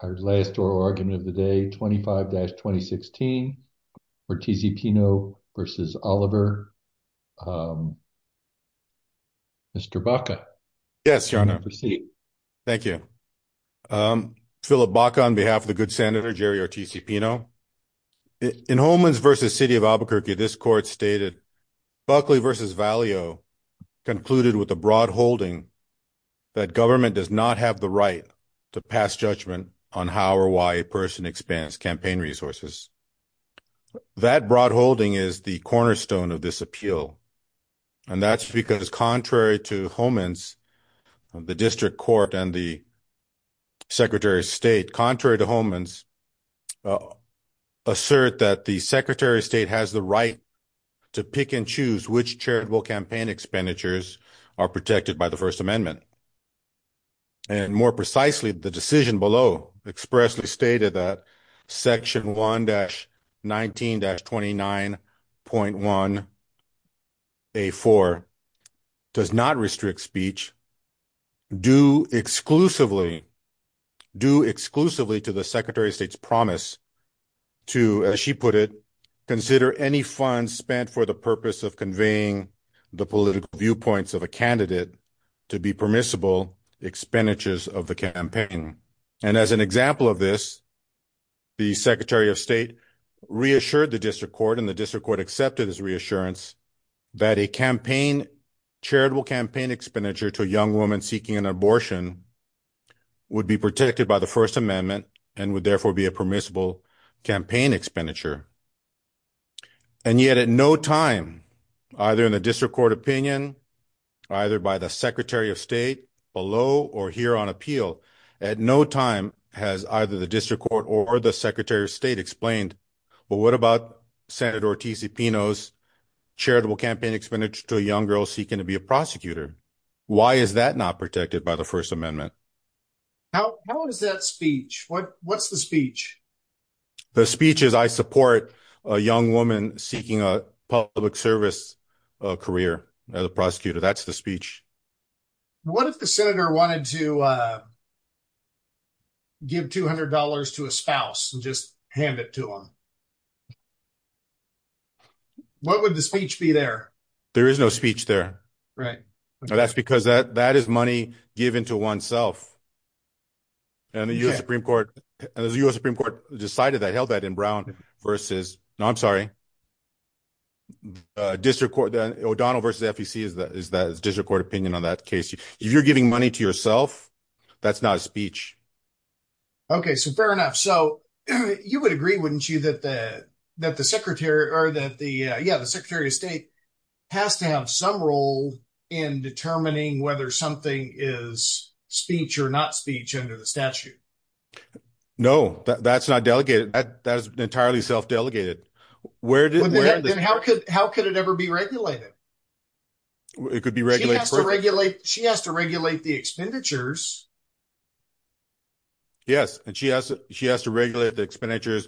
Our last oral argument of the day 25-2016 Ortiz y Pino v. Oliver. Mr. Baca. Yes, your honor. Proceed. Thank you. Philip Baca on behalf of the good senator Jerry Ortiz y Pino. In Holmans v. City of Albuquerque this court stated Buckley v. Valeo concluded with a broad holding that government does not have the right to pass judgment on how or why a person expands campaign resources. That broad holding is the cornerstone of this appeal. And that's because contrary to Holmans, the district court and the secretary of state, contrary to Holmans, assert that the secretary of state has the right to pick and choose which charitable campaign expenditures are protected by the first amendment. And more precisely, the decision below expressly stated that section 1-19-29.1a4 does not restrict speech due exclusively to the secretary of state's promise to, as she put it, consider any funds spent for the purpose of conveying the political viewpoints of a candidate to be permissible expenditures of the campaign. And as an example of this, the secretary of state reassured the district court and the district court accepted his reassurance that a campaign, charitable campaign expenditure to a young woman seeking an abortion would be protected by the first amendment and would at no time, either in the district court opinion, either by the secretary of state, below or here on appeal, at no time has either the district court or the secretary of state explained, well, what about Senator Ortiz-Pino's charitable campaign expenditure to a young girl seeking to be a prosecutor? Why is that not protected by the first amendment? How is that speech? What's the speech? The speech is I support a young woman seeking a public service career as a prosecutor. That's the speech. What if the senator wanted to give $200 to a spouse and just hand it to him? What would the speech be there? There is no speech there. Right. That's because that is money given to oneself. And the U.S. Supreme Court decided that, held that in Brown versus, no, I'm sorry, O'Donnell versus FEC is the district court opinion on that case. If you're giving money to yourself, that's not a speech. Okay, so fair enough. So you would agree, wouldn't you, that the secretary of state has to have some role in determining whether something is speech or not speech under the statute? No, that's not delegated. That is entirely self-delegated. How could it ever be regulated? It could be regulated. She has to regulate the expenditures. Yes, and she has to regulate the expenditures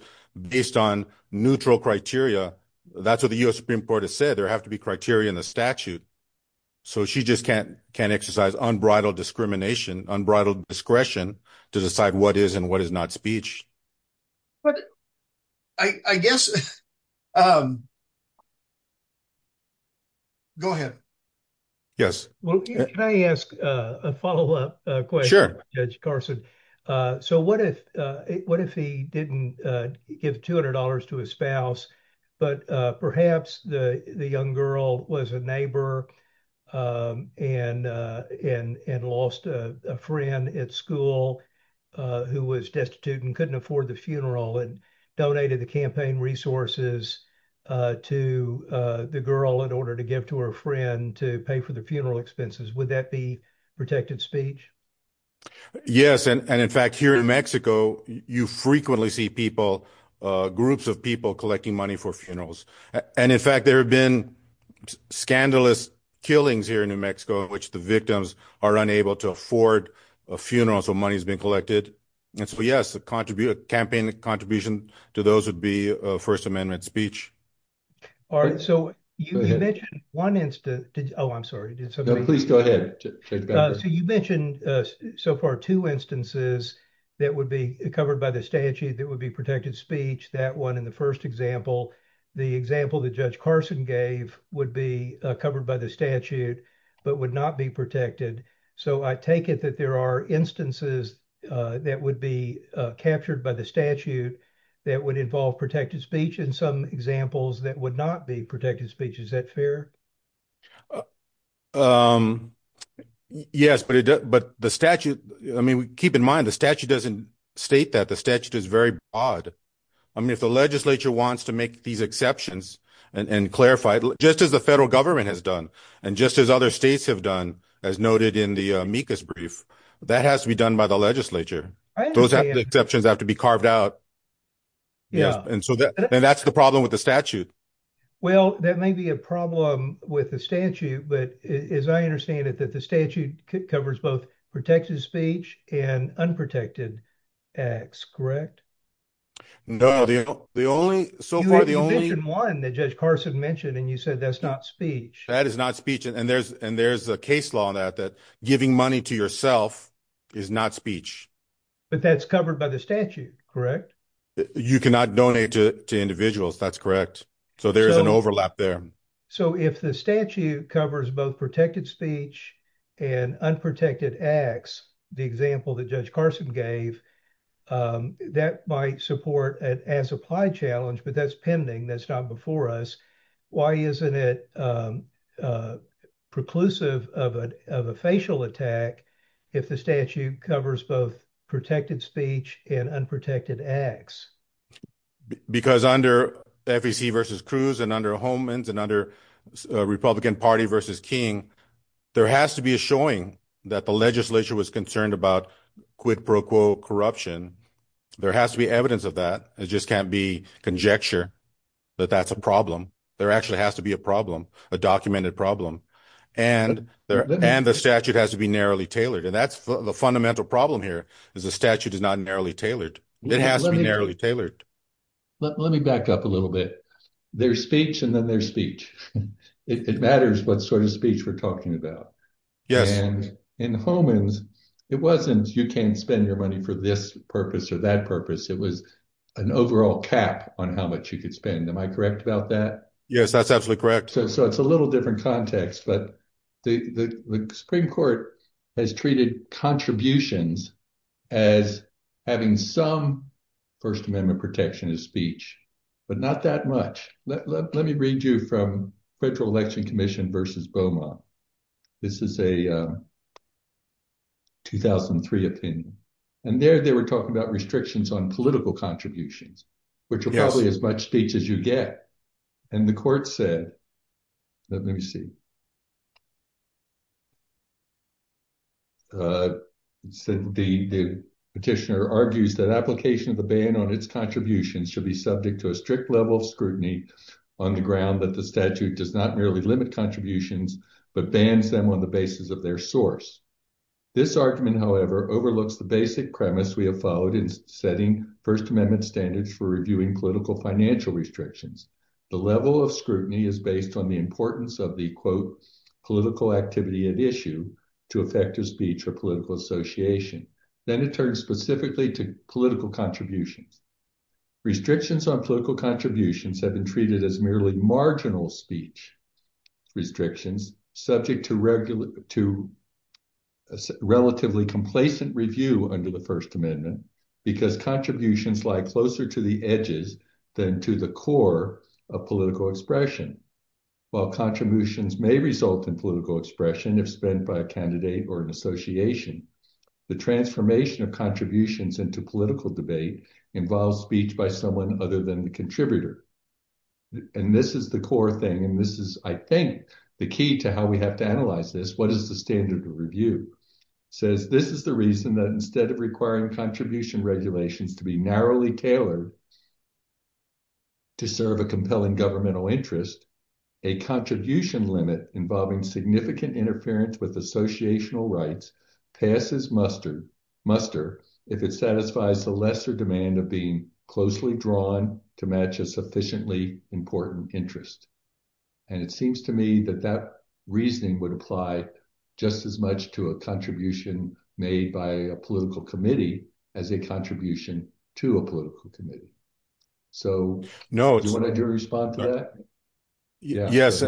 based on neutral criteria. That's what the U.S. Supreme Court has said. There have to be criteria in the statute. So she just can't exercise unbridled discrimination, unbridled discretion to decide what is and what is not speech. But I guess, go ahead. Yes. Well, can I ask a follow-up question, Judge Carson? So what if he didn't give $200 to his spouse, but perhaps the young girl was a neighbor and lost a friend at school who was destitute and couldn't afford the funeral and donated the campaign resources to the girl in order to give to her friend to pay for the funeral expenses? Would that be protected speech? Yes. And in fact, here in Mexico, you frequently see people, groups of people collecting money for funerals. And in fact, there have been scandalous killings here in New Mexico in which the victims are unable to afford a funeral, so money has been collected. And so yes, the campaign contribution to those would be First Amendment speech. All right. So you mentioned one instance. Oh, I'm sorry. Please go ahead. So you mentioned so far two instances that would be covered by the statute that would be protected speech. That one in the first example, the example that Judge Carson gave would be covered by the statute, but would not be protected. So I take it that there are instances that would be captured by the statute that would involve protected speech in some examples that would not be protected speech. Is that fair? Yes, but the statute, I mean, keep in mind, the statute doesn't state that. The statute is very broad. I mean, if the legislature wants to make these exceptions and clarify it, just as the federal government has and just as other states have done, as noted in the amicus brief, that has to be done by the legislature. Those exceptions have to be carved out. Yeah. And so that's the problem with the statute. Well, that may be a problem with the statute, but as I understand it, that the statute covers both protected speech and unprotected acts, correct? No, the only so far, the only one that Judge Carson mentioned, and you said that's not speech. That is not speech. And there's a case law on that, that giving money to yourself is not speech. But that's covered by the statute, correct? You cannot donate to individuals. That's correct. So there's an overlap there. So if the statute covers both protected speech and unprotected acts, the example that Judge Carson gave, that might support an as-applied challenge, but that's pending. That's not before us. Why isn't it preclusive of a facial attack if the statute covers both protected speech and unprotected acts? Because under FEC versus Cruz and under Homans and under Republican Party versus King, there has to be a showing that the legislature was concerned about corruption. There has to be evidence of that. It just can't be conjecture that that's a problem. There actually has to be a problem, a documented problem. And the statute has to be narrowly tailored. And that's the fundamental problem here, is the statute is not narrowly tailored. It has to be narrowly tailored. Let me back up a little bit. There's speech and then there's speech. It matters what sort of speech we're talking about. And in Homans, it wasn't, you can't spend your money for this purpose or that purpose. It was an overall cap on how much you could spend. Am I correct about that? Yes, that's absolutely correct. So it's a little different context, but the Supreme Court has treated contributions as having some First Amendment protection of speech, but not that much. Let me read you from Federal Election Commission versus Beaumont. This is a 2003 opinion. And there they were talking about restrictions on political contributions, which are probably as much speech as you get. And the court said, let me see. It said the petitioner argues that application of the ban on its contributions should be subject to a strict level of scrutiny on the ground that statute does not merely limit contributions, but bans them on the basis of their source. This argument, however, overlooks the basic premise we have followed in setting First Amendment standards for reviewing political financial restrictions. The level of scrutiny is based on the importance of the, quote, political activity at issue to effective speech or political association. Then it turns specifically to political contributions. Restrictions on contributions have been treated as merely marginal speech restrictions subject to relatively complacent review under the First Amendment because contributions lie closer to the edges than to the core of political expression. While contributions may result in political expression if spent by a candidate or an association, the transformation of contributions into political debate involves speech by someone other than the contributor. And this is the core thing. And this is, I think, the key to how we have to analyze this. What is the standard of review? Says this is the reason that instead of requiring contribution regulations to be narrowly tailored to serve a compelling governmental interest, a contribution limit involving significant interference with associational rights passes muster if it satisfies the lesser demand of being closely drawn to match a sufficiently important interest. And it seems to me that that reasoning would apply just as much to a contribution made by a political committee as a contribution to a political committee. So do you want to respond to that? Yes.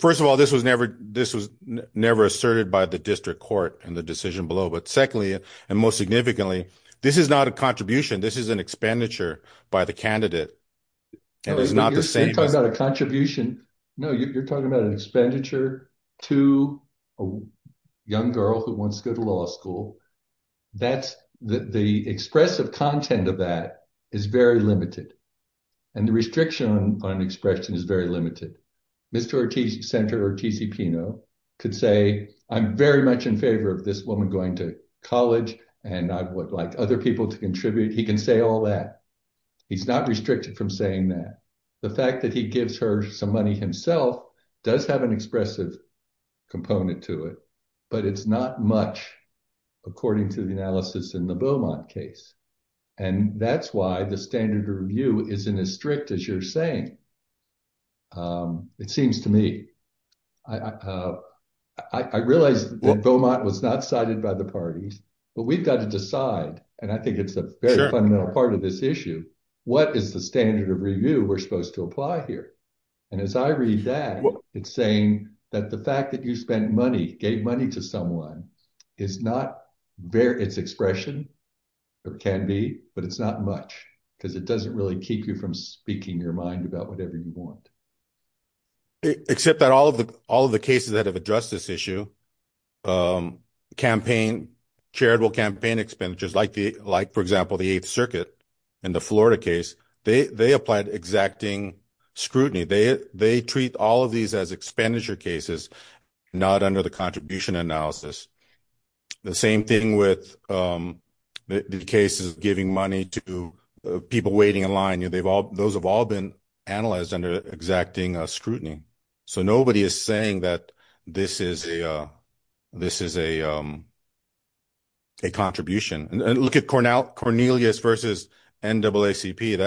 First of all, this was never this was never asserted by the district court in the decision below. But secondly, and most significantly, this is not a contribution. This is an expenditure by the candidate. And it's not the same contribution. No, you're talking about an expenditure to a young girl who wants to go to law school. That's the expressive content of that is very limited. And the restriction on an expression is very limited. Mr. Ortiz, Senator Ortiz-Pino could say, I'm very much in favor of this woman going to college and I would like other people to contribute. He can say all that. He's not restricted from saying that. The fact that he gives her some money himself does have an expressive component to it, but it's not much according to the analysis in the Beaumont case. And that's why the standard of review isn't as strict as you're saying. It seems to me, I realize Beaumont was not cited by the parties, but we've got to decide. And I think it's a very fundamental part of this issue. What is the standard of review we're supposed to apply here? And as I read that, it's saying that the fact that you gave money to someone, it's expression or can be, but it's not much because it doesn't really keep you from speaking your mind about whatever you want. Except that all of the cases that have addressed this issue, charitable campaign expenditures, like for example, the Eighth Circuit and the Florida case, they applied exacting scrutiny. They treat all of these as expenditure cases, not under the contribution analysis. The same thing with the cases of giving money to people waiting in line. Those have all been analyzed under exacting scrutiny. So nobody is saying that this is a contribution. And look at Cornelius versus NAACP.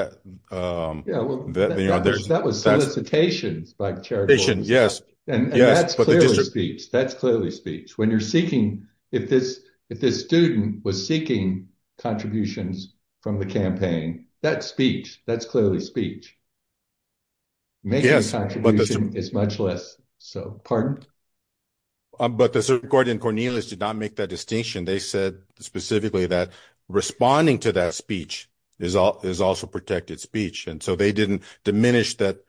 That was solicitations by charitable. And that's clearly speech. That's clearly speech. If this student was seeking contributions from the campaign, that's speech. That's clearly speech. Making a contribution is much less. So, pardon? But the Supreme Court in Cornelius did not make that distinction. They said specifically that responding to that speech is also protected speech. And so they didn't diminish that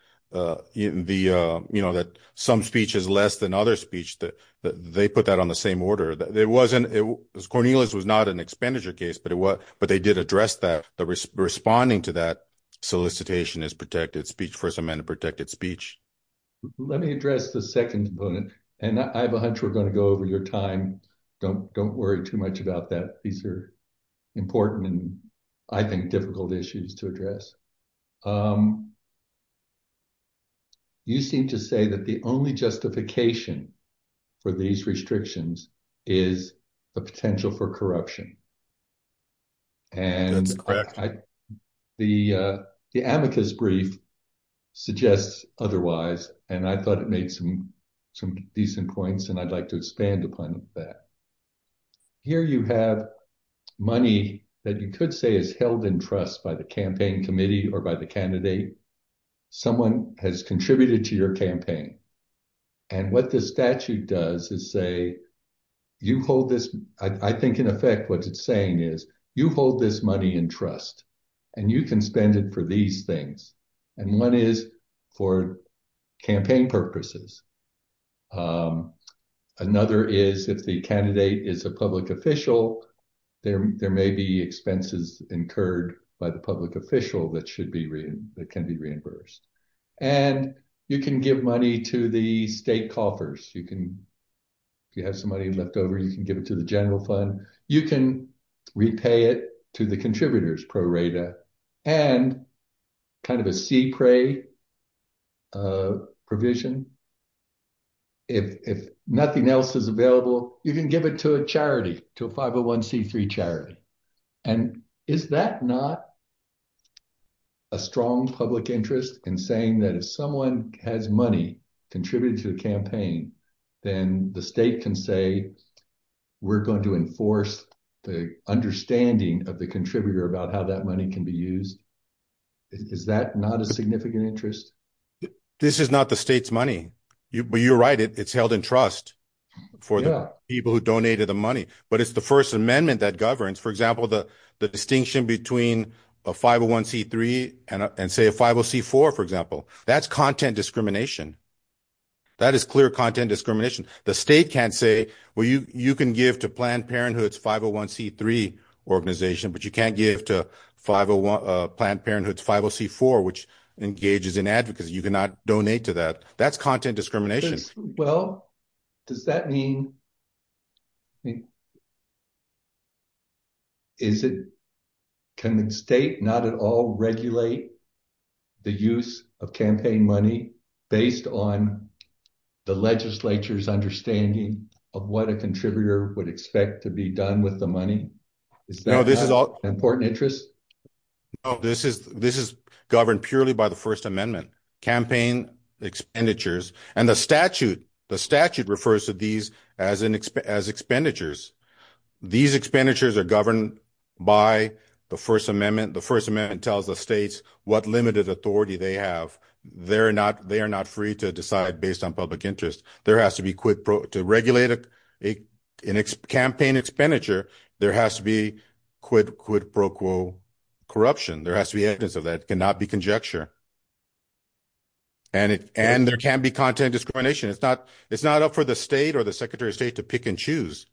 some speech is less than other speech. They put that on the same order. Cornelius was not an expenditure case, but they did address that. The responding to that solicitation is protected speech. First Amendment protected speech. Let me address the second component. And I have a hunch we're going to go over your time. Don't worry too much about that. These are important and I think difficult issues to address. You seem to say that the only justification for these restrictions is the potential for corruption. And the amicus brief suggests otherwise. And I thought it made some decent points and I'd like to expand upon that. Here you have money that you could say is held in trust by the campaign committee or by the candidate. Someone has contributed to your is you hold this money in trust and you can spend it for these things. And one is for campaign purposes. Another is if the candidate is a public official, there may be expenses incurred by the public official that can be reimbursed. And you can give money to the state coffers. If you have money left over, you can give it to the general fund. You can repay it to the contributors, pro rata. And kind of a sea prey provision. If nothing else is available, you can give it to a charity, to a 501c3 charity. And is that not a strong public interest in saying that if someone has money contributed to the campaign, then the state can say we're going to enforce the understanding of the contributor about how that money can be used? Is that not a significant interest? This is not the state's money. But you're right, it's held in trust for the people who donated the money. But it's the First Amendment that governs, for example, the distinction between a 501c3 and say a 50c4, for example. That's content discrimination. That is clear content discrimination. The state can't say, well, you can give to Planned Parenthood's 501c3 organization, but you can't give to Planned Parenthood's 50c4, which engages in advocacy. You cannot donate to that. That's content discrimination. Well, does that mean... Is it, can the state not at all regulate the use of campaign money based on the legislature's understanding of what a contributor would expect to be done with the money? Is that an important interest? No, this is governed purely by the First Amendment campaign expenditures. And the statute, the statute refers to these as expenditures. These expenditures are governed by the First Amendment. The First Amendment tells the states what limited authority they have. They are not free to decide based on public interest. To regulate a campaign expenditure, there has to be quid pro quo corruption. There has to be evidence of that. It cannot be conjecture. And it, and there can be content discrimination. It's not, it's not up for the state or the secretary of state to pick and choose.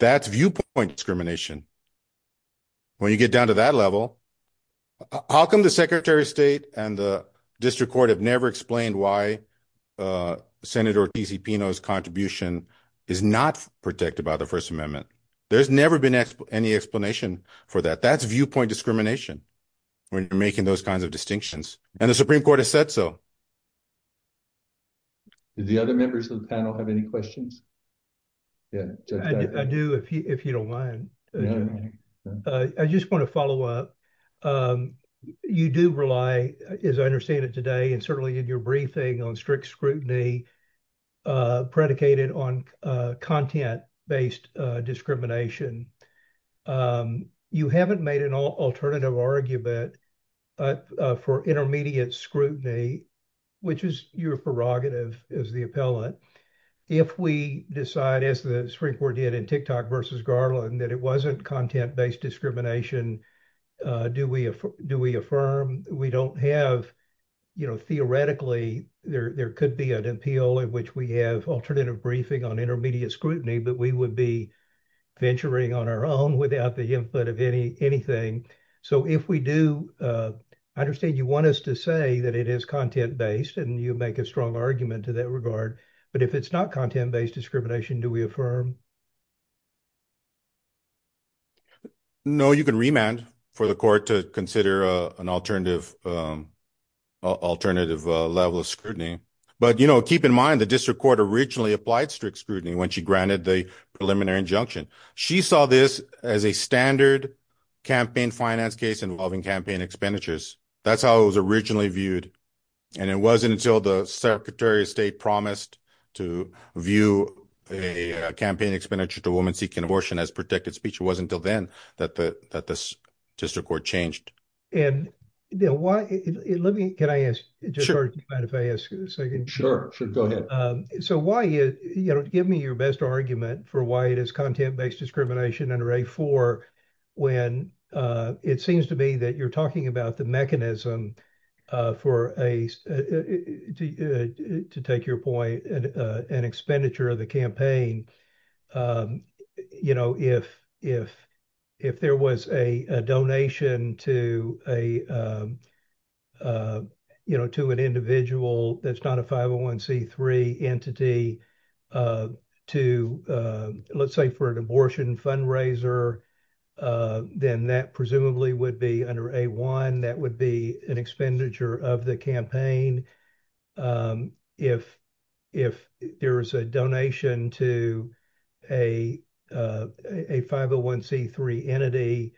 That's viewpoint discrimination. When you get down to that level, how come the secretary of state and the district court have never explained why Senator T.C. Pino's contribution is not protected by the First Amendment? There's never been any explanation for that. That's viewpoint discrimination when you're making those distinctions. And the Supreme Court has said so. Did the other members of the panel have any questions? I do, if you don't mind. I just want to follow up. You do rely, as I understand it today, and certainly in your briefing on strict scrutiny predicated on content-based discrimination. You haven't made an alternative argument for intermediate scrutiny, which is your prerogative as the appellant. If we decide, as the Supreme Court did in TikTok versus Garland, that it wasn't content-based discrimination, do we affirm, we don't have, you know, theoretically, there could be an appeal in which we have alternative briefing on intermediate scrutiny, but we would be on our own without the input of anything. So if we do, I understand you want us to say that it is content-based and you make a strong argument to that regard, but if it's not content-based discrimination, do we affirm? No, you can remand for the court to consider an alternative level of scrutiny. But, you know, keep in mind the district court originally applied strict scrutiny when she granted the preliminary injunction. She saw this as a standard campaign finance case involving campaign expenditures. That's how it was originally viewed. And it wasn't until the secretary of state promised to view a campaign expenditure to a woman seeking abortion as protected speech. It wasn't until then that the district court changed. And, you know, let me, can I ask? Sure, go ahead. So why, you know, give me your best argument for why it is content-based discrimination under A4 when it seems to me that you're talking about the mechanism for a, to take your point, an expenditure of the campaign. You know, if there was a donation to a you know, to an individual that's not a 501c3 entity to let's say for an abortion fundraiser, then that presumably would be under A1. That would be an expenditure of the campaign. If, if there was a donation to a 501c3 entity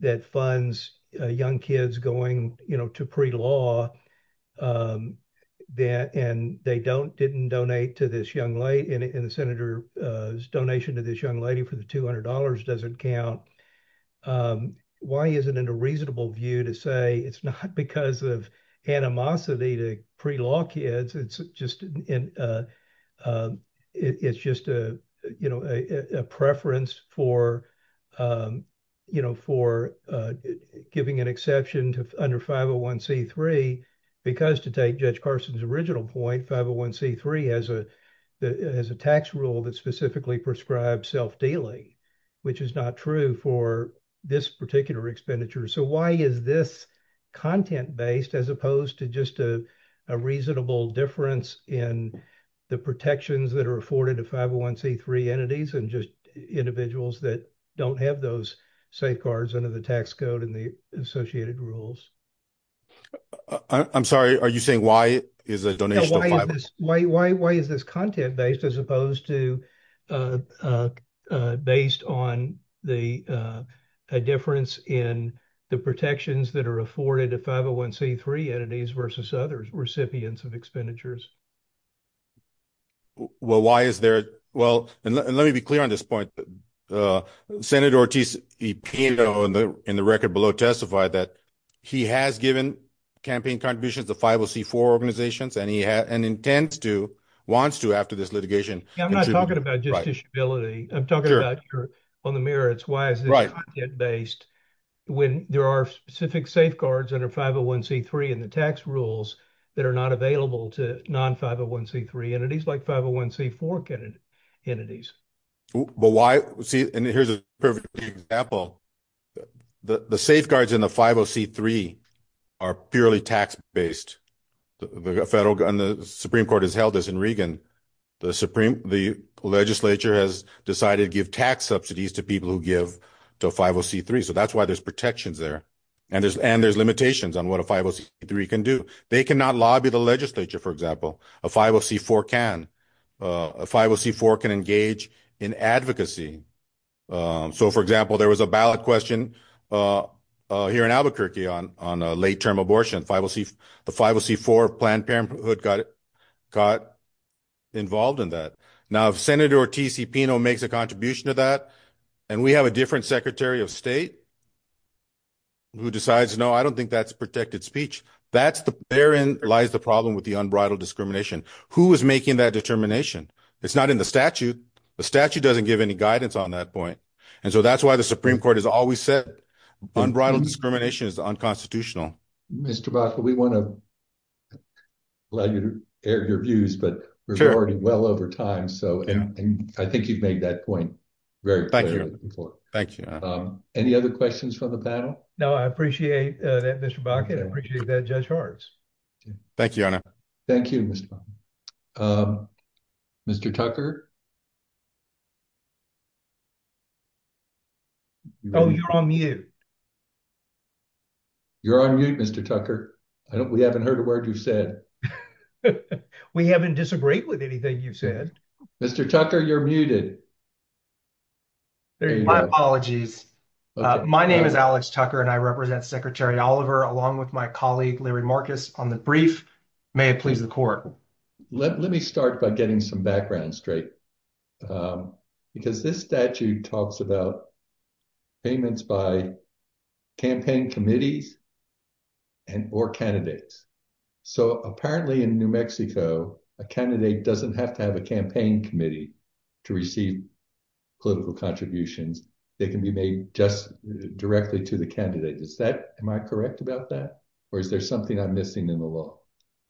that funds young kids going, you know, to pre-law and they don't, didn't donate to this young lady and the senator's donation to this young lady for the $200 doesn't count. Why is it in a reasonable view to say it's not because of animosity to pre-law kids? It's just, it's just a, you know, a preference for, you know, for giving an exception to under 501c3 because to take Judge Carson's original point, 501c3 has a, has a tax rule that specifically prescribed self-dealing, which is not true for this particular expenditure. So why is this content-based as opposed to just a reasonable difference in the protections that are afforded to 501c3 entities and just individuals that don't have those safeguards under the tax code and the associated rules? I'm sorry, are you saying why is a donation? Why, why, why is this content-based as opposed to, uh, uh, uh, based on the, uh, a difference in the protections that are afforded to 501c3 entities versus other recipients of expenditures? Well, why is there, well, and let me be clear on this point, uh, Senator Ortiz, he, you know, in the, in the record below testified that he has given campaign contributions to 504 organizations and he has, and intends to, wants to after this litigation. I'm not talking about justiciability. I'm talking about on the merits, why is it based when there are specific safeguards under 501c3 and the tax rules that are not available to non-501c3 entities like 501c4 entities. But why, see, and here's a perfect example. The safeguards in the 503 are purely tax-based. The federal, and the Supreme Court has held this in Regan. The Supreme, the legislature has decided to give tax subsidies to people who give to 503. So that's why there's protections there. And there's, and there's limitations on what a 503 can do. They cannot lobby the legislature. For example, a 504 can, uh, a 504 can engage in advocacy. Um, so for example, there was a ballot question, uh, uh, here in Albuquerque on, on a late-term abortion. 504, the 504 Planned Parenthood got, got involved in that. Now if Senator Ortiz Cipino makes a contribution to that, and we have a different Secretary of State who decides, no, I don't think that's protected speech. That's the, therein lies the problem with the unbridled discrimination. Who is making that determination? It's not in the statute. The statute doesn't give any guidance on that point. And so that's why the Supreme Court has always said unbridled discrimination is unconstitutional. Mr. Baca, we want to allow you to air your views, but we're already well over time. So I think you've made that point very clearly. Thank you. Any other questions from the panel? No, I appreciate that, Mr. Baca, and I appreciate that Judge Hartz. Thank you, Your Honor. Thank you, Mr. Baca. Mr. Tucker? Oh, you're on mute. You're on mute, Mr. Tucker. I don't, we haven't heard a word you've said. We haven't disagreed with anything you've said. Mr. Tucker, you're muted. My apologies. My name is Alex Tucker, and I represent Secretary Oliver along with my colleague Larry Marcus on the brief. May it please the Court. Let me start by getting some background straight, because this statute talks about payments by campaign committees and or candidates. So apparently in New Mexico, a candidate doesn't have to have a campaign committee to receive political contributions. They can be made just directly to the candidate. Am I correct about that, or is there something I'm missing in the law?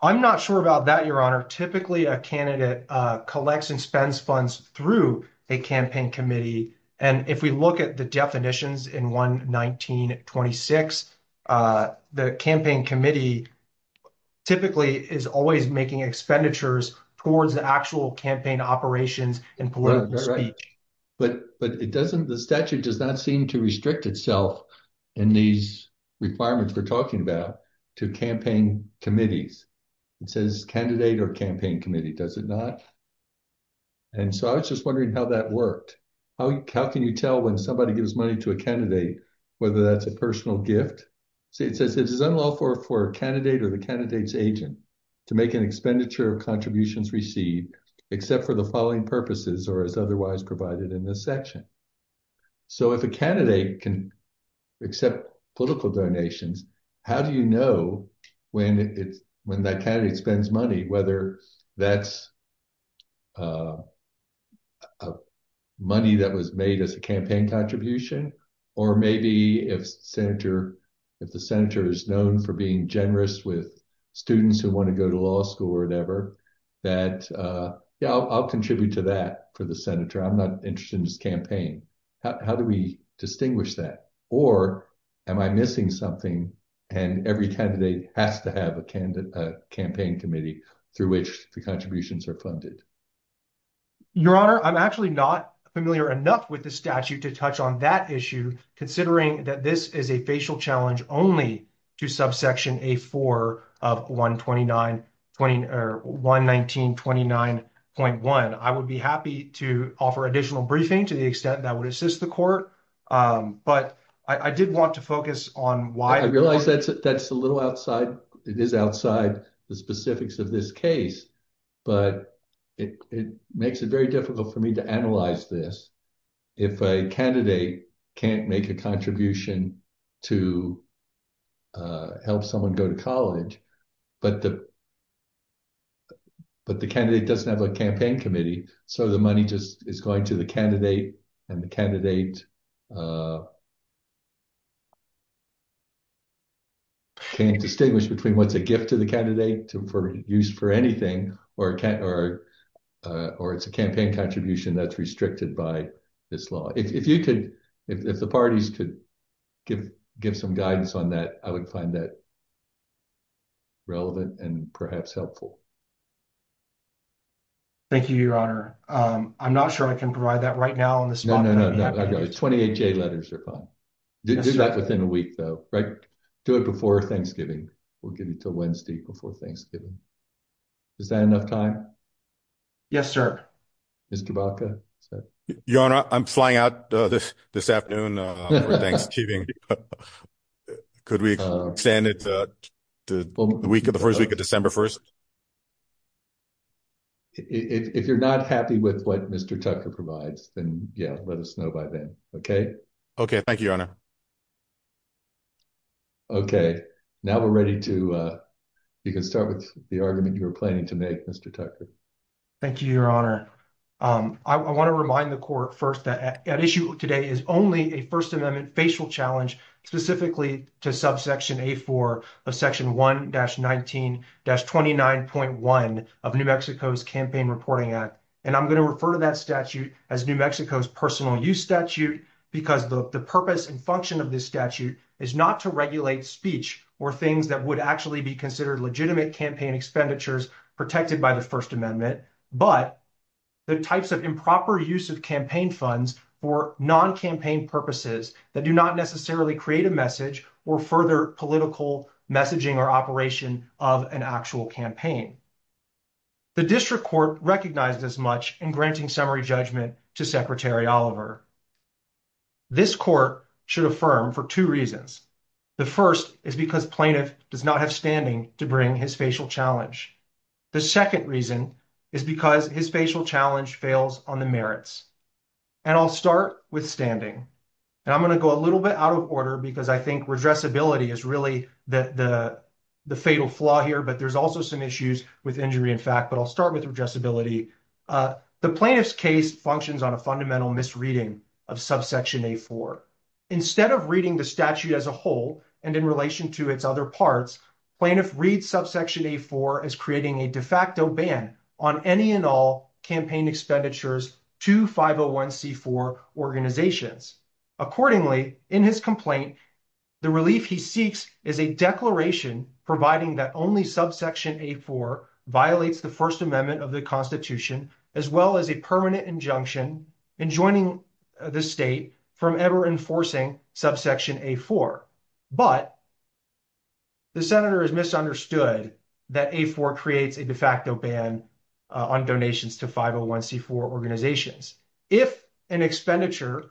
I'm not sure about that, Your Honor. Typically, a candidate collects and spends funds through a campaign committee, and if we look at the definitions in 119.26, the campaign committee typically is always making expenditures towards the actual campaign operations and political speech. But it doesn't, the statute does not seem to restrict itself in these requirements we're talking about to campaign committees. It says candidate or campaign committee, does it not? And so I was just wondering how that worked. How can you tell when somebody gives money to a candidate whether that's a personal gift? See, it says it is unlawful for a candidate or the candidate's agent to make an expenditure of contributions received except for the following purposes or as otherwise provided in this section. So if a candidate can accept political donations, how do you know when that candidate spends money, whether that's money that was made as a campaign contribution, or maybe if the senator is known for being generous with students who want to go to law school or whatever, that, yeah, I'll contribute to that for the senator. I'm not interested in this campaign. How do we distinguish that? Or am I missing something and every candidate has to have a campaign committee through which the contributions are funded? Your Honor, I'm actually not familiar enough with the statute to touch on that issue, considering that this is a facial challenge only to subsection A4 of 119.29.1. I would be happy to offer additional briefing to the extent that would assist the court, but I did want to focus on why. I realize that's a little outside. It is outside the specifics of this case, but it makes it very difficult for me to analyze this if a candidate can't make a contribution to help someone go to college, but the candidate doesn't have a campaign committee, so the money just is going to the candidate, and the candidate can't distinguish between what's a gift to the candidate for use for anything or it's a campaign contribution that's restricted by this law. If you could, if the parties could give some guidance on that, I would find that relevant and perhaps helpful. Thank you, Your Honor. I'm not sure I can provide that right now on the spot. 28-J letters are fine. Do that within a week, though. Do it before Thanksgiving. We'll give it to Wednesday before Thanksgiving. Is that enough time? Yes, sir. Mr. Baca? Your Honor, I'm flying out this afternoon for Thanksgiving. Could we extend it to the first week of December 1st? If you're not happy with what Mr. Tucker provides, then, yeah, let us know by then, okay? Okay. Thank you, Your Honor. Okay. Now we're ready to, you can start with the argument you were planning to make, Mr. Tucker. Thank you, Your Honor. I want to remind the Court first that at issue today is only a First Amendment facial challenge specifically to subsection A4 of section 1-19-29.1 of New Mexico's Campaign Reporting Act, and I'm going to refer to that statute as New Mexico's personal use statute because the purpose and function of this statute is not to regulate speech or things that would actually be considered legitimate campaign expenditures protected by the First Amendment, but the types of improper use of campaign funds for non-campaign purposes that do not necessarily create a message or further political messaging or operation of an actual campaign. The District this Court should affirm for two reasons. The first is because plaintiff does not have standing to bring his facial challenge. The second reason is because his facial challenge fails on the merits, and I'll start with standing, and I'm going to go a little bit out of order because I think redressability is really the fatal flaw here, but there's also some issues with injury, in fact, but I'll start with redressability. The plaintiff's case functions on a fundamental misreading of subsection A4. Instead of reading the statute as a whole and in relation to its other parts, plaintiff reads subsection A4 as creating a de facto ban on any and all campaign expenditures to 501c4 organizations. Accordingly, in his complaint, the relief he seeks is a declaration providing that only subsection A4 violates the First Amendment of the Constitution as well as a permanent injunction enjoining the state from ever enforcing subsection A4, but the Senator has misunderstood that A4 creates a de facto ban on donations to 501c4 organizations. If an expenditure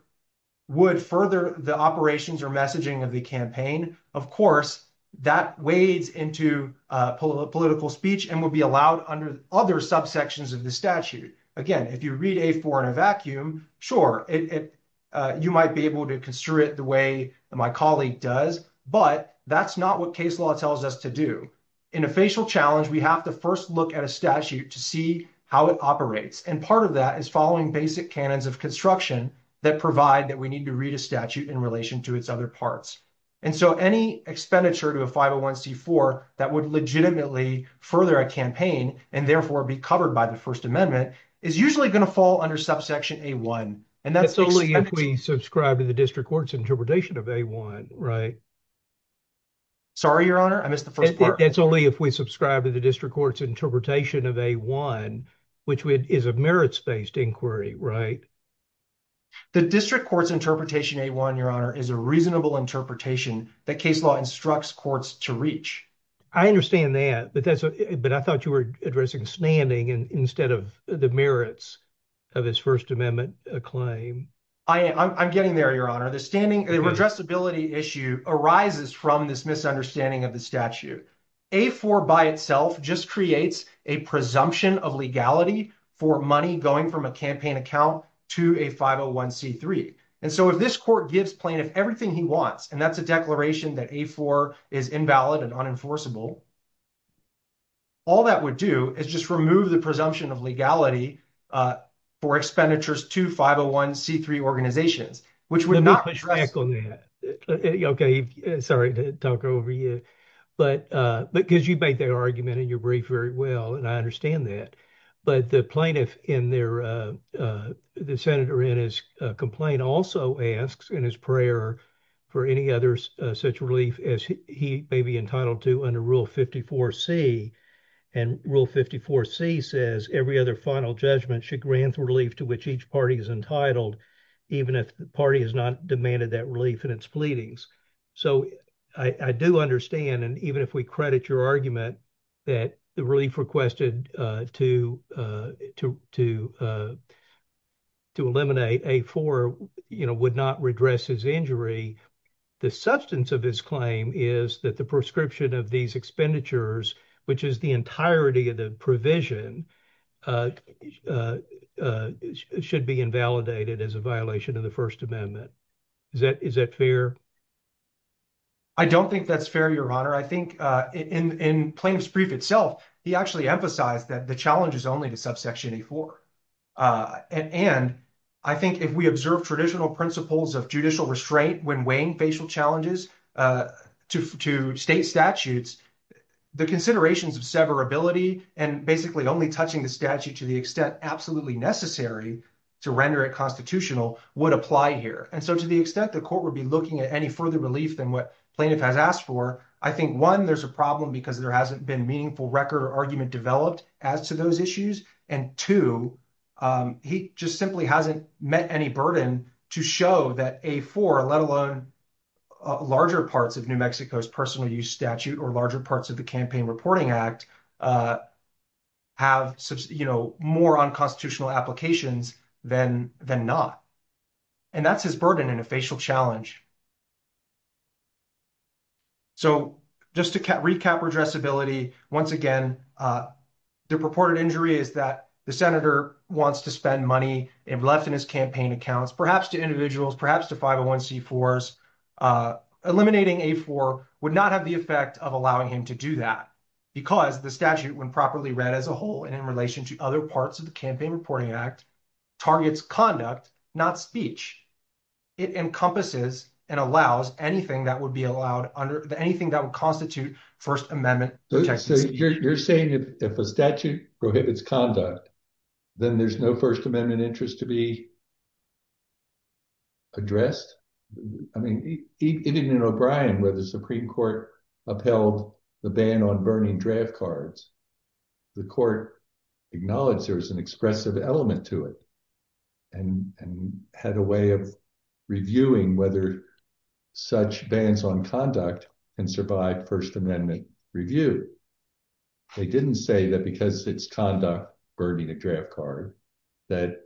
would further the operations or messaging of the campaign, of course, that wades into political speech and would be allowed under other subsections of the statute. Again, if you read A4 in a vacuum, sure, you might be able to construe it the way my colleague does, but that's not what case law tells us to do. In a facial challenge, we have to first look at a statute to see how it operates, and part of that is following basic canons of construction that provide that we legitimately further a campaign and therefore be covered by the First Amendment is usually going to fall under subsection A1. That's only if we subscribe to the district court's interpretation of A1, right? Sorry, Your Honor, I missed the first part. That's only if we subscribe to the district court's interpretation of A1, which is a merits-based inquiry, right? The district court's interpretation A1, Your Honor, is a reasonable interpretation that case law instructs courts to reach. I understand that, but I thought you were addressing standing instead of the merits of his First Amendment claim. I'm getting there, Your Honor. The addressability issue arises from this misunderstanding of the statute. A4 by itself just creates a presumption of legality for money going from a campaign account to a 501c3, and so if this court gives plaintiff everything he wants, and that's a declaration that A4 is invalid and unenforceable, all that would do is just remove the presumption of legality for expenditures to 501c3 organizations, which would not... Let me push back on that. Okay, sorry to talk over you, but because you make that argument in your brief very well, and I understand that, but the plaintiff in their... The senator in his complaint also asks in his prayer for any other such relief as he may be entitled to under Rule 54c, and Rule 54c says every other final judgment should grant relief to which each party is entitled, even if the party has not demanded that relief in its pleadings. So I do understand, and even if we credit your argument that the relief requested to eliminate A4 would not redress his injury. The substance of his claim is that the prescription of these expenditures, which is the entirety of the provision, should be invalidated as a violation of the First Amendment. Is that fair? I don't think that's fair, Your Honor. I think in Plaintiff's brief itself, he actually emphasized that the challenge is only to subsection A4. And I think if we observe traditional principles of judicial restraint when weighing facial challenges to state statutes, the considerations of severability and basically only touching the statute to the extent absolutely necessary to render it constitutional would apply here. And so to the extent the court would be looking at any further relief than what plaintiff has asked for, I think, one, there's a problem because there hasn't been meaningful record or argument developed as to those issues, and two, he just simply hasn't met any burden to show that A4, let alone larger parts of New Mexico's personal use statute or larger parts of the challenge. So just to recap redressability, once again, the purported injury is that the senator wants to spend money left in his campaign accounts, perhaps to individuals, perhaps to 501c4s. Eliminating A4 would not have the effect of allowing him to do that because the statute, when properly read as a whole and in relation to other parts of the it encompasses and allows anything that would be allowed under anything that would constitute First Amendment protections. So you're saying if a statute prohibits conduct, then there's no First Amendment interest to be addressed? I mean, even in O'Brien, where the Supreme Court upheld the ban on burning draft cards, the court acknowledged there was an expressive element to it and had a way of reviewing whether such bans on conduct can survive First Amendment review. They didn't say that because it's conduct burning a draft card, that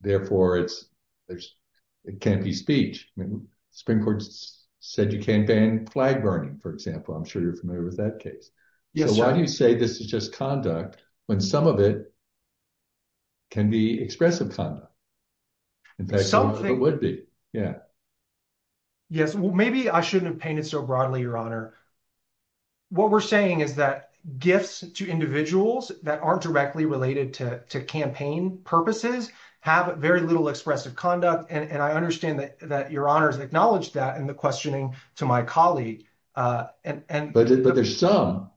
therefore it can't be speech. I mean, Supreme Court said you can't ban flag burning, for example. I'm sure you're familiar with that case. Why do you say this is just conduct when some of it can be expressive conduct? Maybe I shouldn't have painted so broadly, Your Honor. What we're saying is that gifts to individuals that aren't directly related to campaign purposes have very little expressive conduct. And I understand that Your Honor has acknowledged that in the questioning to my colleague. But there's some.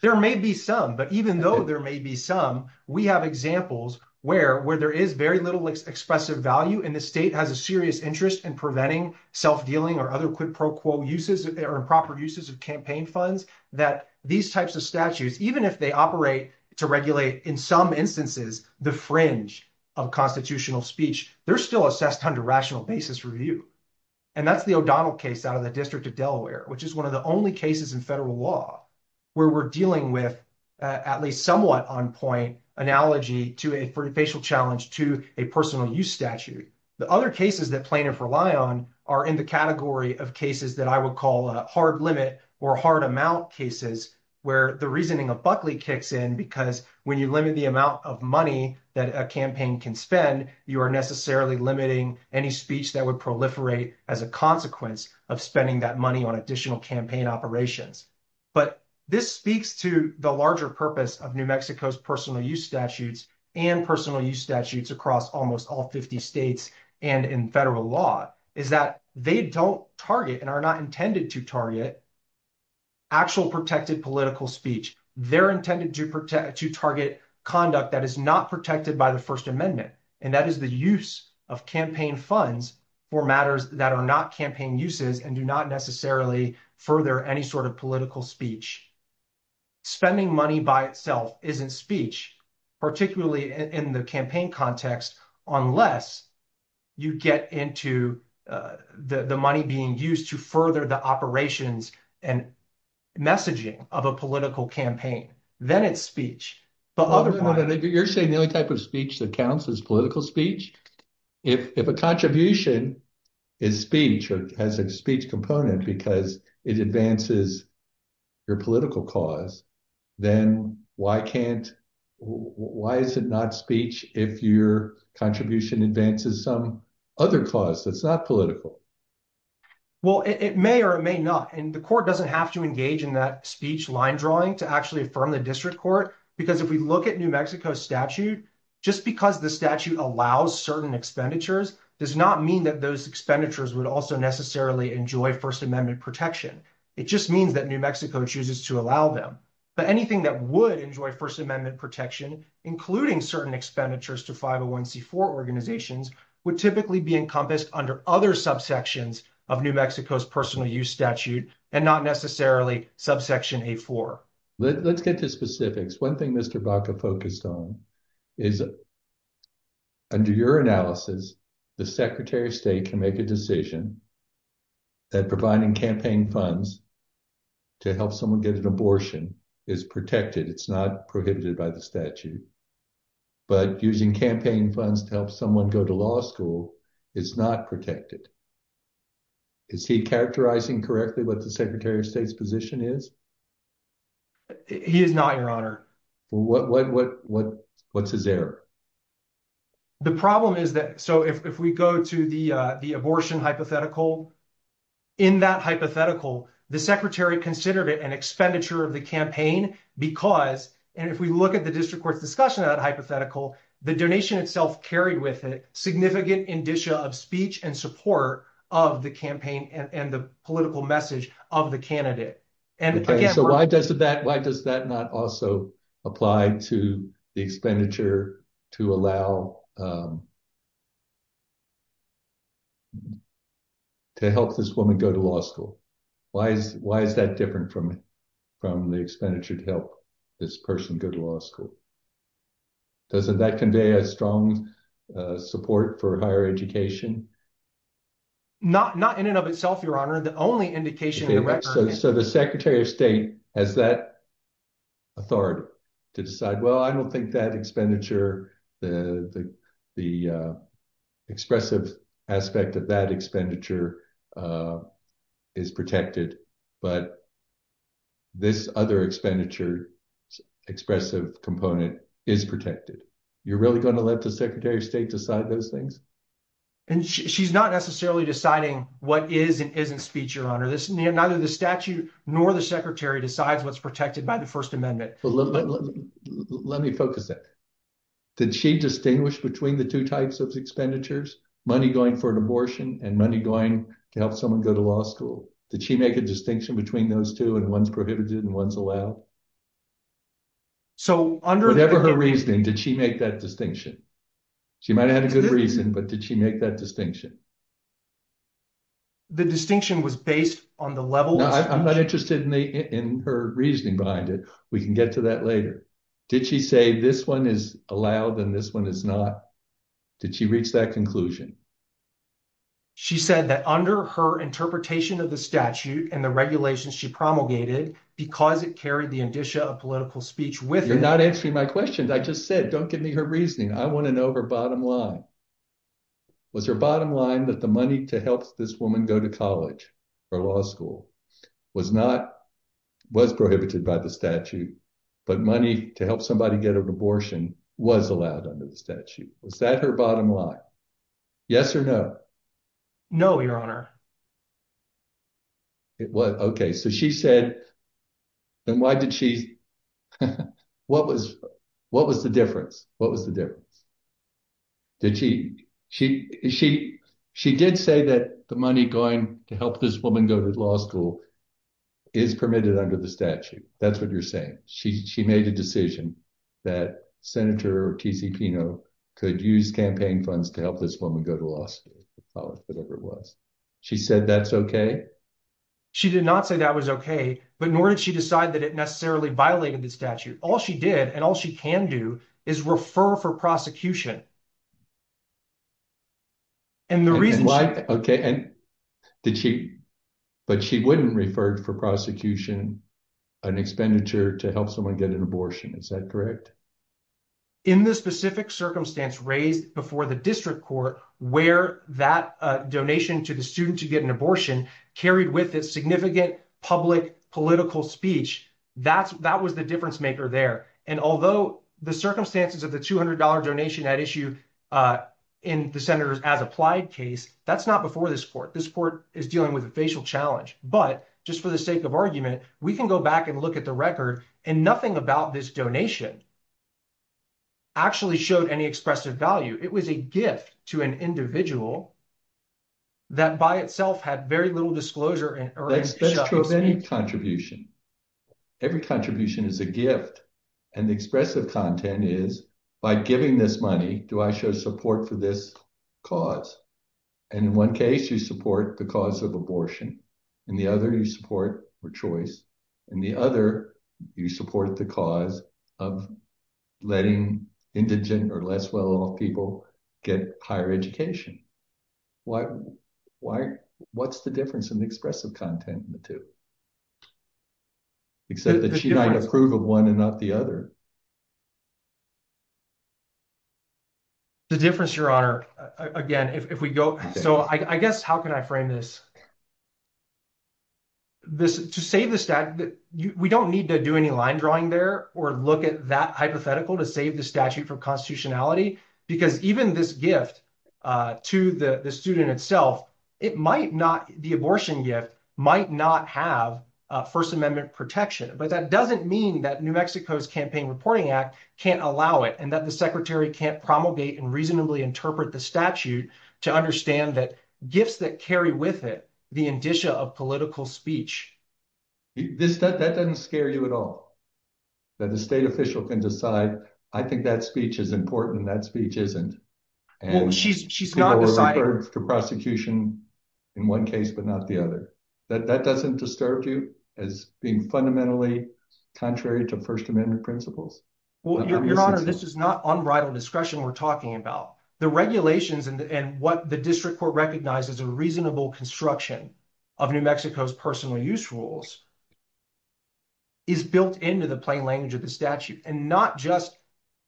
There may be some, but even though there may be some, we have examples where there is very little expressive value and the state has a serious interest in preventing self-dealing or other quid pro quo uses or improper uses of campaign funds, that these types of statutes, even if they operate to regulate in some instances, the fringe of constitutional speech, they're still assessed under rational basis review. And that's the Delaware, which is one of the only cases in federal law where we're dealing with at least somewhat on point analogy to a facial challenge to a personal use statute. The other cases that plaintiffs rely on are in the category of cases that I would call a hard limit or hard amount cases where the reasoning of Buckley kicks in because when you limit the amount of money that a campaign can spend, you are necessarily limiting any speech that would proliferate as a consequence of spending that money on additional campaign operations. But this speaks to the larger purpose of New Mexico's personal use statutes and personal use statutes across almost all 50 states and in federal law is that they don't target and are not intended to target actual protected political speech. They're intended to protect, to target conduct that is not protected by the first amendment. And that is the use of campaign funds for matters that are not campaign uses and do not necessarily further any sort of political speech. Spending money by itself isn't speech, particularly in the campaign context, unless you get into the money being used to further the operations and messaging of a political campaign, then it's speech. But other You're saying the only type of speech that counts is political speech. If a contribution is speech or has a speech component because it advances your political cause, then why can't, why is it not speech if your contribution advances some other cause that's not political? Well, it may or it may not. And the court doesn't have to engage in that speech line drawing to affirm the district court. Because if we look at New Mexico statute, just because the statute allows certain expenditures does not mean that those expenditures would also necessarily enjoy first amendment protection. It just means that New Mexico chooses to allow them. But anything that would enjoy first amendment protection, including certain expenditures to 501c4 organizations would typically be encompassed under other subsections of New Mexico's personal use and not necessarily subsection A4. Let's get to specifics. One thing Mr. Baca focused on is under your analysis, the secretary of state can make a decision that providing campaign funds to help someone get an abortion is protected. It's not prohibited by the statute. But using campaign funds to help someone go to law school is not protected. Is he characterizing correctly what the secretary of state's position is? He is not, your honor. What's his error? The problem is that, so if we go to the abortion hypothetical, in that hypothetical, the secretary considered it an expenditure of the campaign because, and if we look at the district court's discussion of that hypothetical, the donation itself carried with it significant indicia of speech and support of the campaign and the political message of the candidate. Okay, so why does that not also apply to the expenditure to allow to help this woman go to law school? Why is that different from the expenditure to help this person go to law school? Doesn't that convey a strong support for higher education? Not in and of itself, your honor. The only indication... So the secretary of state has that authority to decide, well, I don't think that expenditure, the expressive aspect of that expenditure is protected, but this other expenditure expressive component is protected. You're really going to let the secretary of state decide those things? And she's not necessarily deciding what is and isn't speech, your honor. Neither the statute nor the secretary decides what's first amendment. Let me focus that. Did she distinguish between the two types of expenditures, money going for an abortion and money going to help someone go to law school? Did she make a distinction between those two and one's prohibited and one's allowed? Whatever her reasoning, did she make that distinction? She might've had a good reason, but did she make that distinction? The distinction was based on the level... No, I'm not interested in her reasoning, we can get to that later. Did she say this one is allowed and this one is not? Did she reach that conclusion? She said that under her interpretation of the statute and the regulations she promulgated, because it carried the indicia of political speech with her... You're not answering my question. I just said, don't give me her reasoning. I want to know her bottom line. Was her bottom line that the money to help this woman go to college or law school was not... Was prohibited by the statute, but money to help somebody get an abortion was allowed under the statute. Was that her bottom line? Yes or no? No, your honor. Okay. So she said... Then why did she... What was the difference? What was the difference? Did she... She did say that the money going to help this woman go to law school is permitted under the statute. That's what you're saying. She made a decision that Senator T.C. Pino could use campaign funds to help this woman go to law school, whatever it was. She said that's okay? She did not say that was okay, but nor did she decide that it necessarily violated the statute. All she did and all she can do is refer for prosecution. And the reason she... Okay. And did she... But she wouldn't refer for prosecution an expenditure to help someone get an abortion. Is that correct? In the specific circumstance raised before the district court where that donation to the student to get an abortion carried with it significant public political speech, that was the difference there. And although the circumstances of the $200 donation at issue in the Senator's as applied case, that's not before this court. This court is dealing with a facial challenge, but just for the sake of argument, we can go back and look at the record and nothing about this donation actually showed any expressive value. It was a gift to an individual that by itself had very little disclosure and... That is true of any contribution. Every contribution is a gift and the expressive content is by giving this money, do I show support for this cause? And in one case you support the cause of abortion and the other you support for choice and the other you support the cause of letting indigent or less well off people get higher education. What's the difference in the expressive content in the two? Except that she might approve of one and not the other. The difference, Your Honor, again, if we go... So I guess, how can I frame this? To save the stat, we don't need to do any line drawing there or look at that hypothetical to save the statute for constitutionality because even this gift to the student itself, it might not... The abortion gift might not have a first amendment protection, but that doesn't mean that New Mexico's Campaign Reporting Act can't allow it and that the secretary can't promulgate and reasonably interpret the statute to understand that gifts that carry with it the indicia of political speech. That doesn't scare you at all, that the state official can decide, I think that speech is important and that speech isn't. She's not deciding... The prosecution in one case, but not the other. That doesn't disturb you as being fundamentally contrary to first amendment principles. Your Honor, this is not unbridled discretion we're talking about. The regulations and what the district court recognizes a reasonable construction of New Mexico's personal use rules is built into the plain language of the statute and not just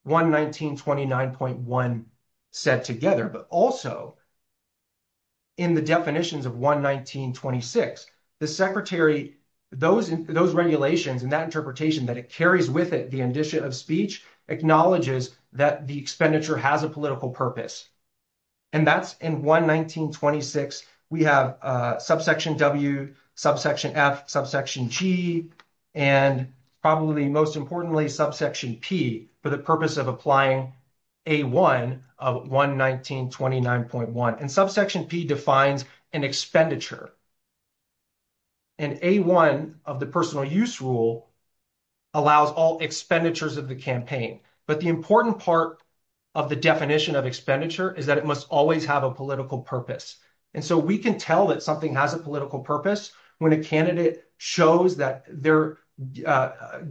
119.29.1 set together, but also in the definitions of 119.26, the secretary... Those regulations and that interpretation that it carries with it, the indicia of speech acknowledges that the expenditure has a subsection G and probably most importantly, subsection P for the purpose of applying A1 of 119.29.1 and subsection P defines an expenditure and A1 of the personal use rule allows all expenditures of the campaign. But the important part of the definition of expenditure is that it must always have a political purpose. And so we can tell that something has a political purpose when a candidate shows that they're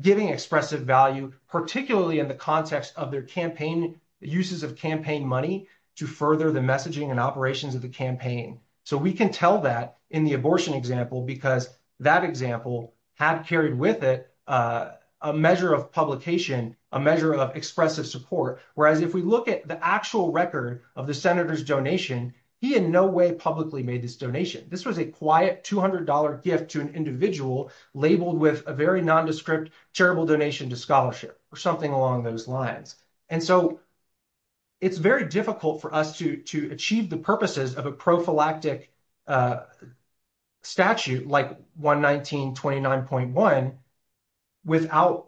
giving expressive value, particularly in the context of their campaign, uses of campaign money to further the messaging and operations of the campaign. So we can tell that in the abortion example, because that example had carried with it a measure of publication, a measure of expressive support. Whereas if we look at the actual record of the senator's donation, he in no way publicly made this donation. This was a quiet $200 gift to an individual labeled with a very nondescript, terrible donation to scholarship or something along those lines. And so it's very difficult for us to achieve the purposes of a prophylactic statute like 119.29.1 without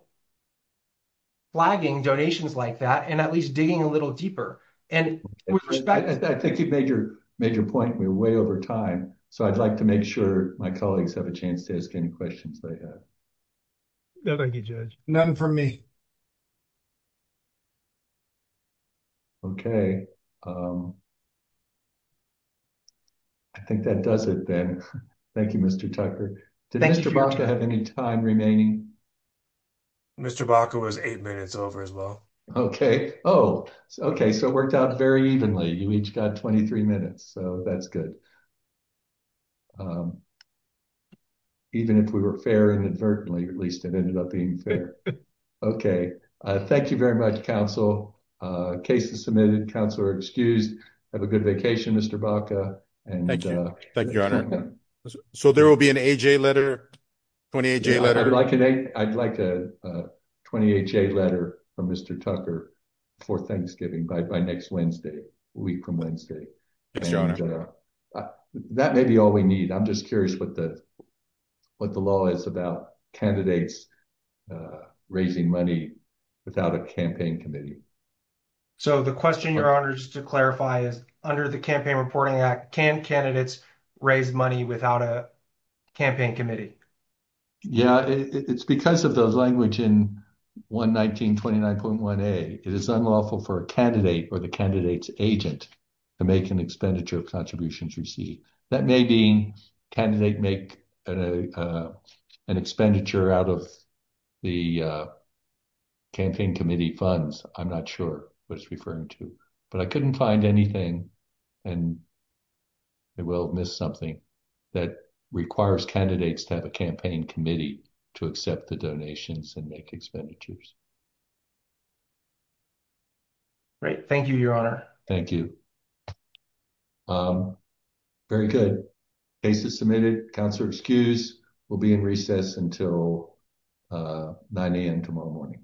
flagging donations like that and at least digging a little deeper. And I think you've made your point. We're way over time. So I'd like to make sure my colleagues have a chance to ask any questions they have. Thank you, Judge. Nothing from me. Okay. I think that does it then. Thank you, Mr. Tucker. Did Mr. Baca have any time remaining? Mr. Baca was eight minutes over as well. Okay. Oh, okay. So it worked out very evenly. You each got 23 minutes, so that's good. Even if we were fair inadvertently, at least it ended up being fair. Okay. Thank you very much, counsel. Case is submitted. Counselor excused. Have a good vacation, Mr. Baca. Thank you. Thank you, Your Honor. So there will be an AJ letter, 28-J letter. I'd like a 28-J letter from Mr. Tucker for Thanksgiving by next Wednesday, a week from Wednesday. Yes, Your Honor. That may be all we need. I'm just curious what the law is about candidates raising money without a campaign committee. So the question, Your Honor, just to clarify is under the Campaign Reporting Act, can candidates raise money without a campaign committee? Yeah. It's because of those language in 11929.1a. It is unlawful for a candidate or the candidate's agent to make an expenditure of contributions received. That may be candidate make an expenditure out of the campaign committee funds. I'm not sure what it's referring to, but I couldn't find anything, and I will miss something that requires candidates to have a campaign committee to accept the donations and make expenditures. Great. Thank you, Your Honor. Thank you. Very good. Case is submitted. Counselor excused. We'll be in recess until 9 a.m. tomorrow morning.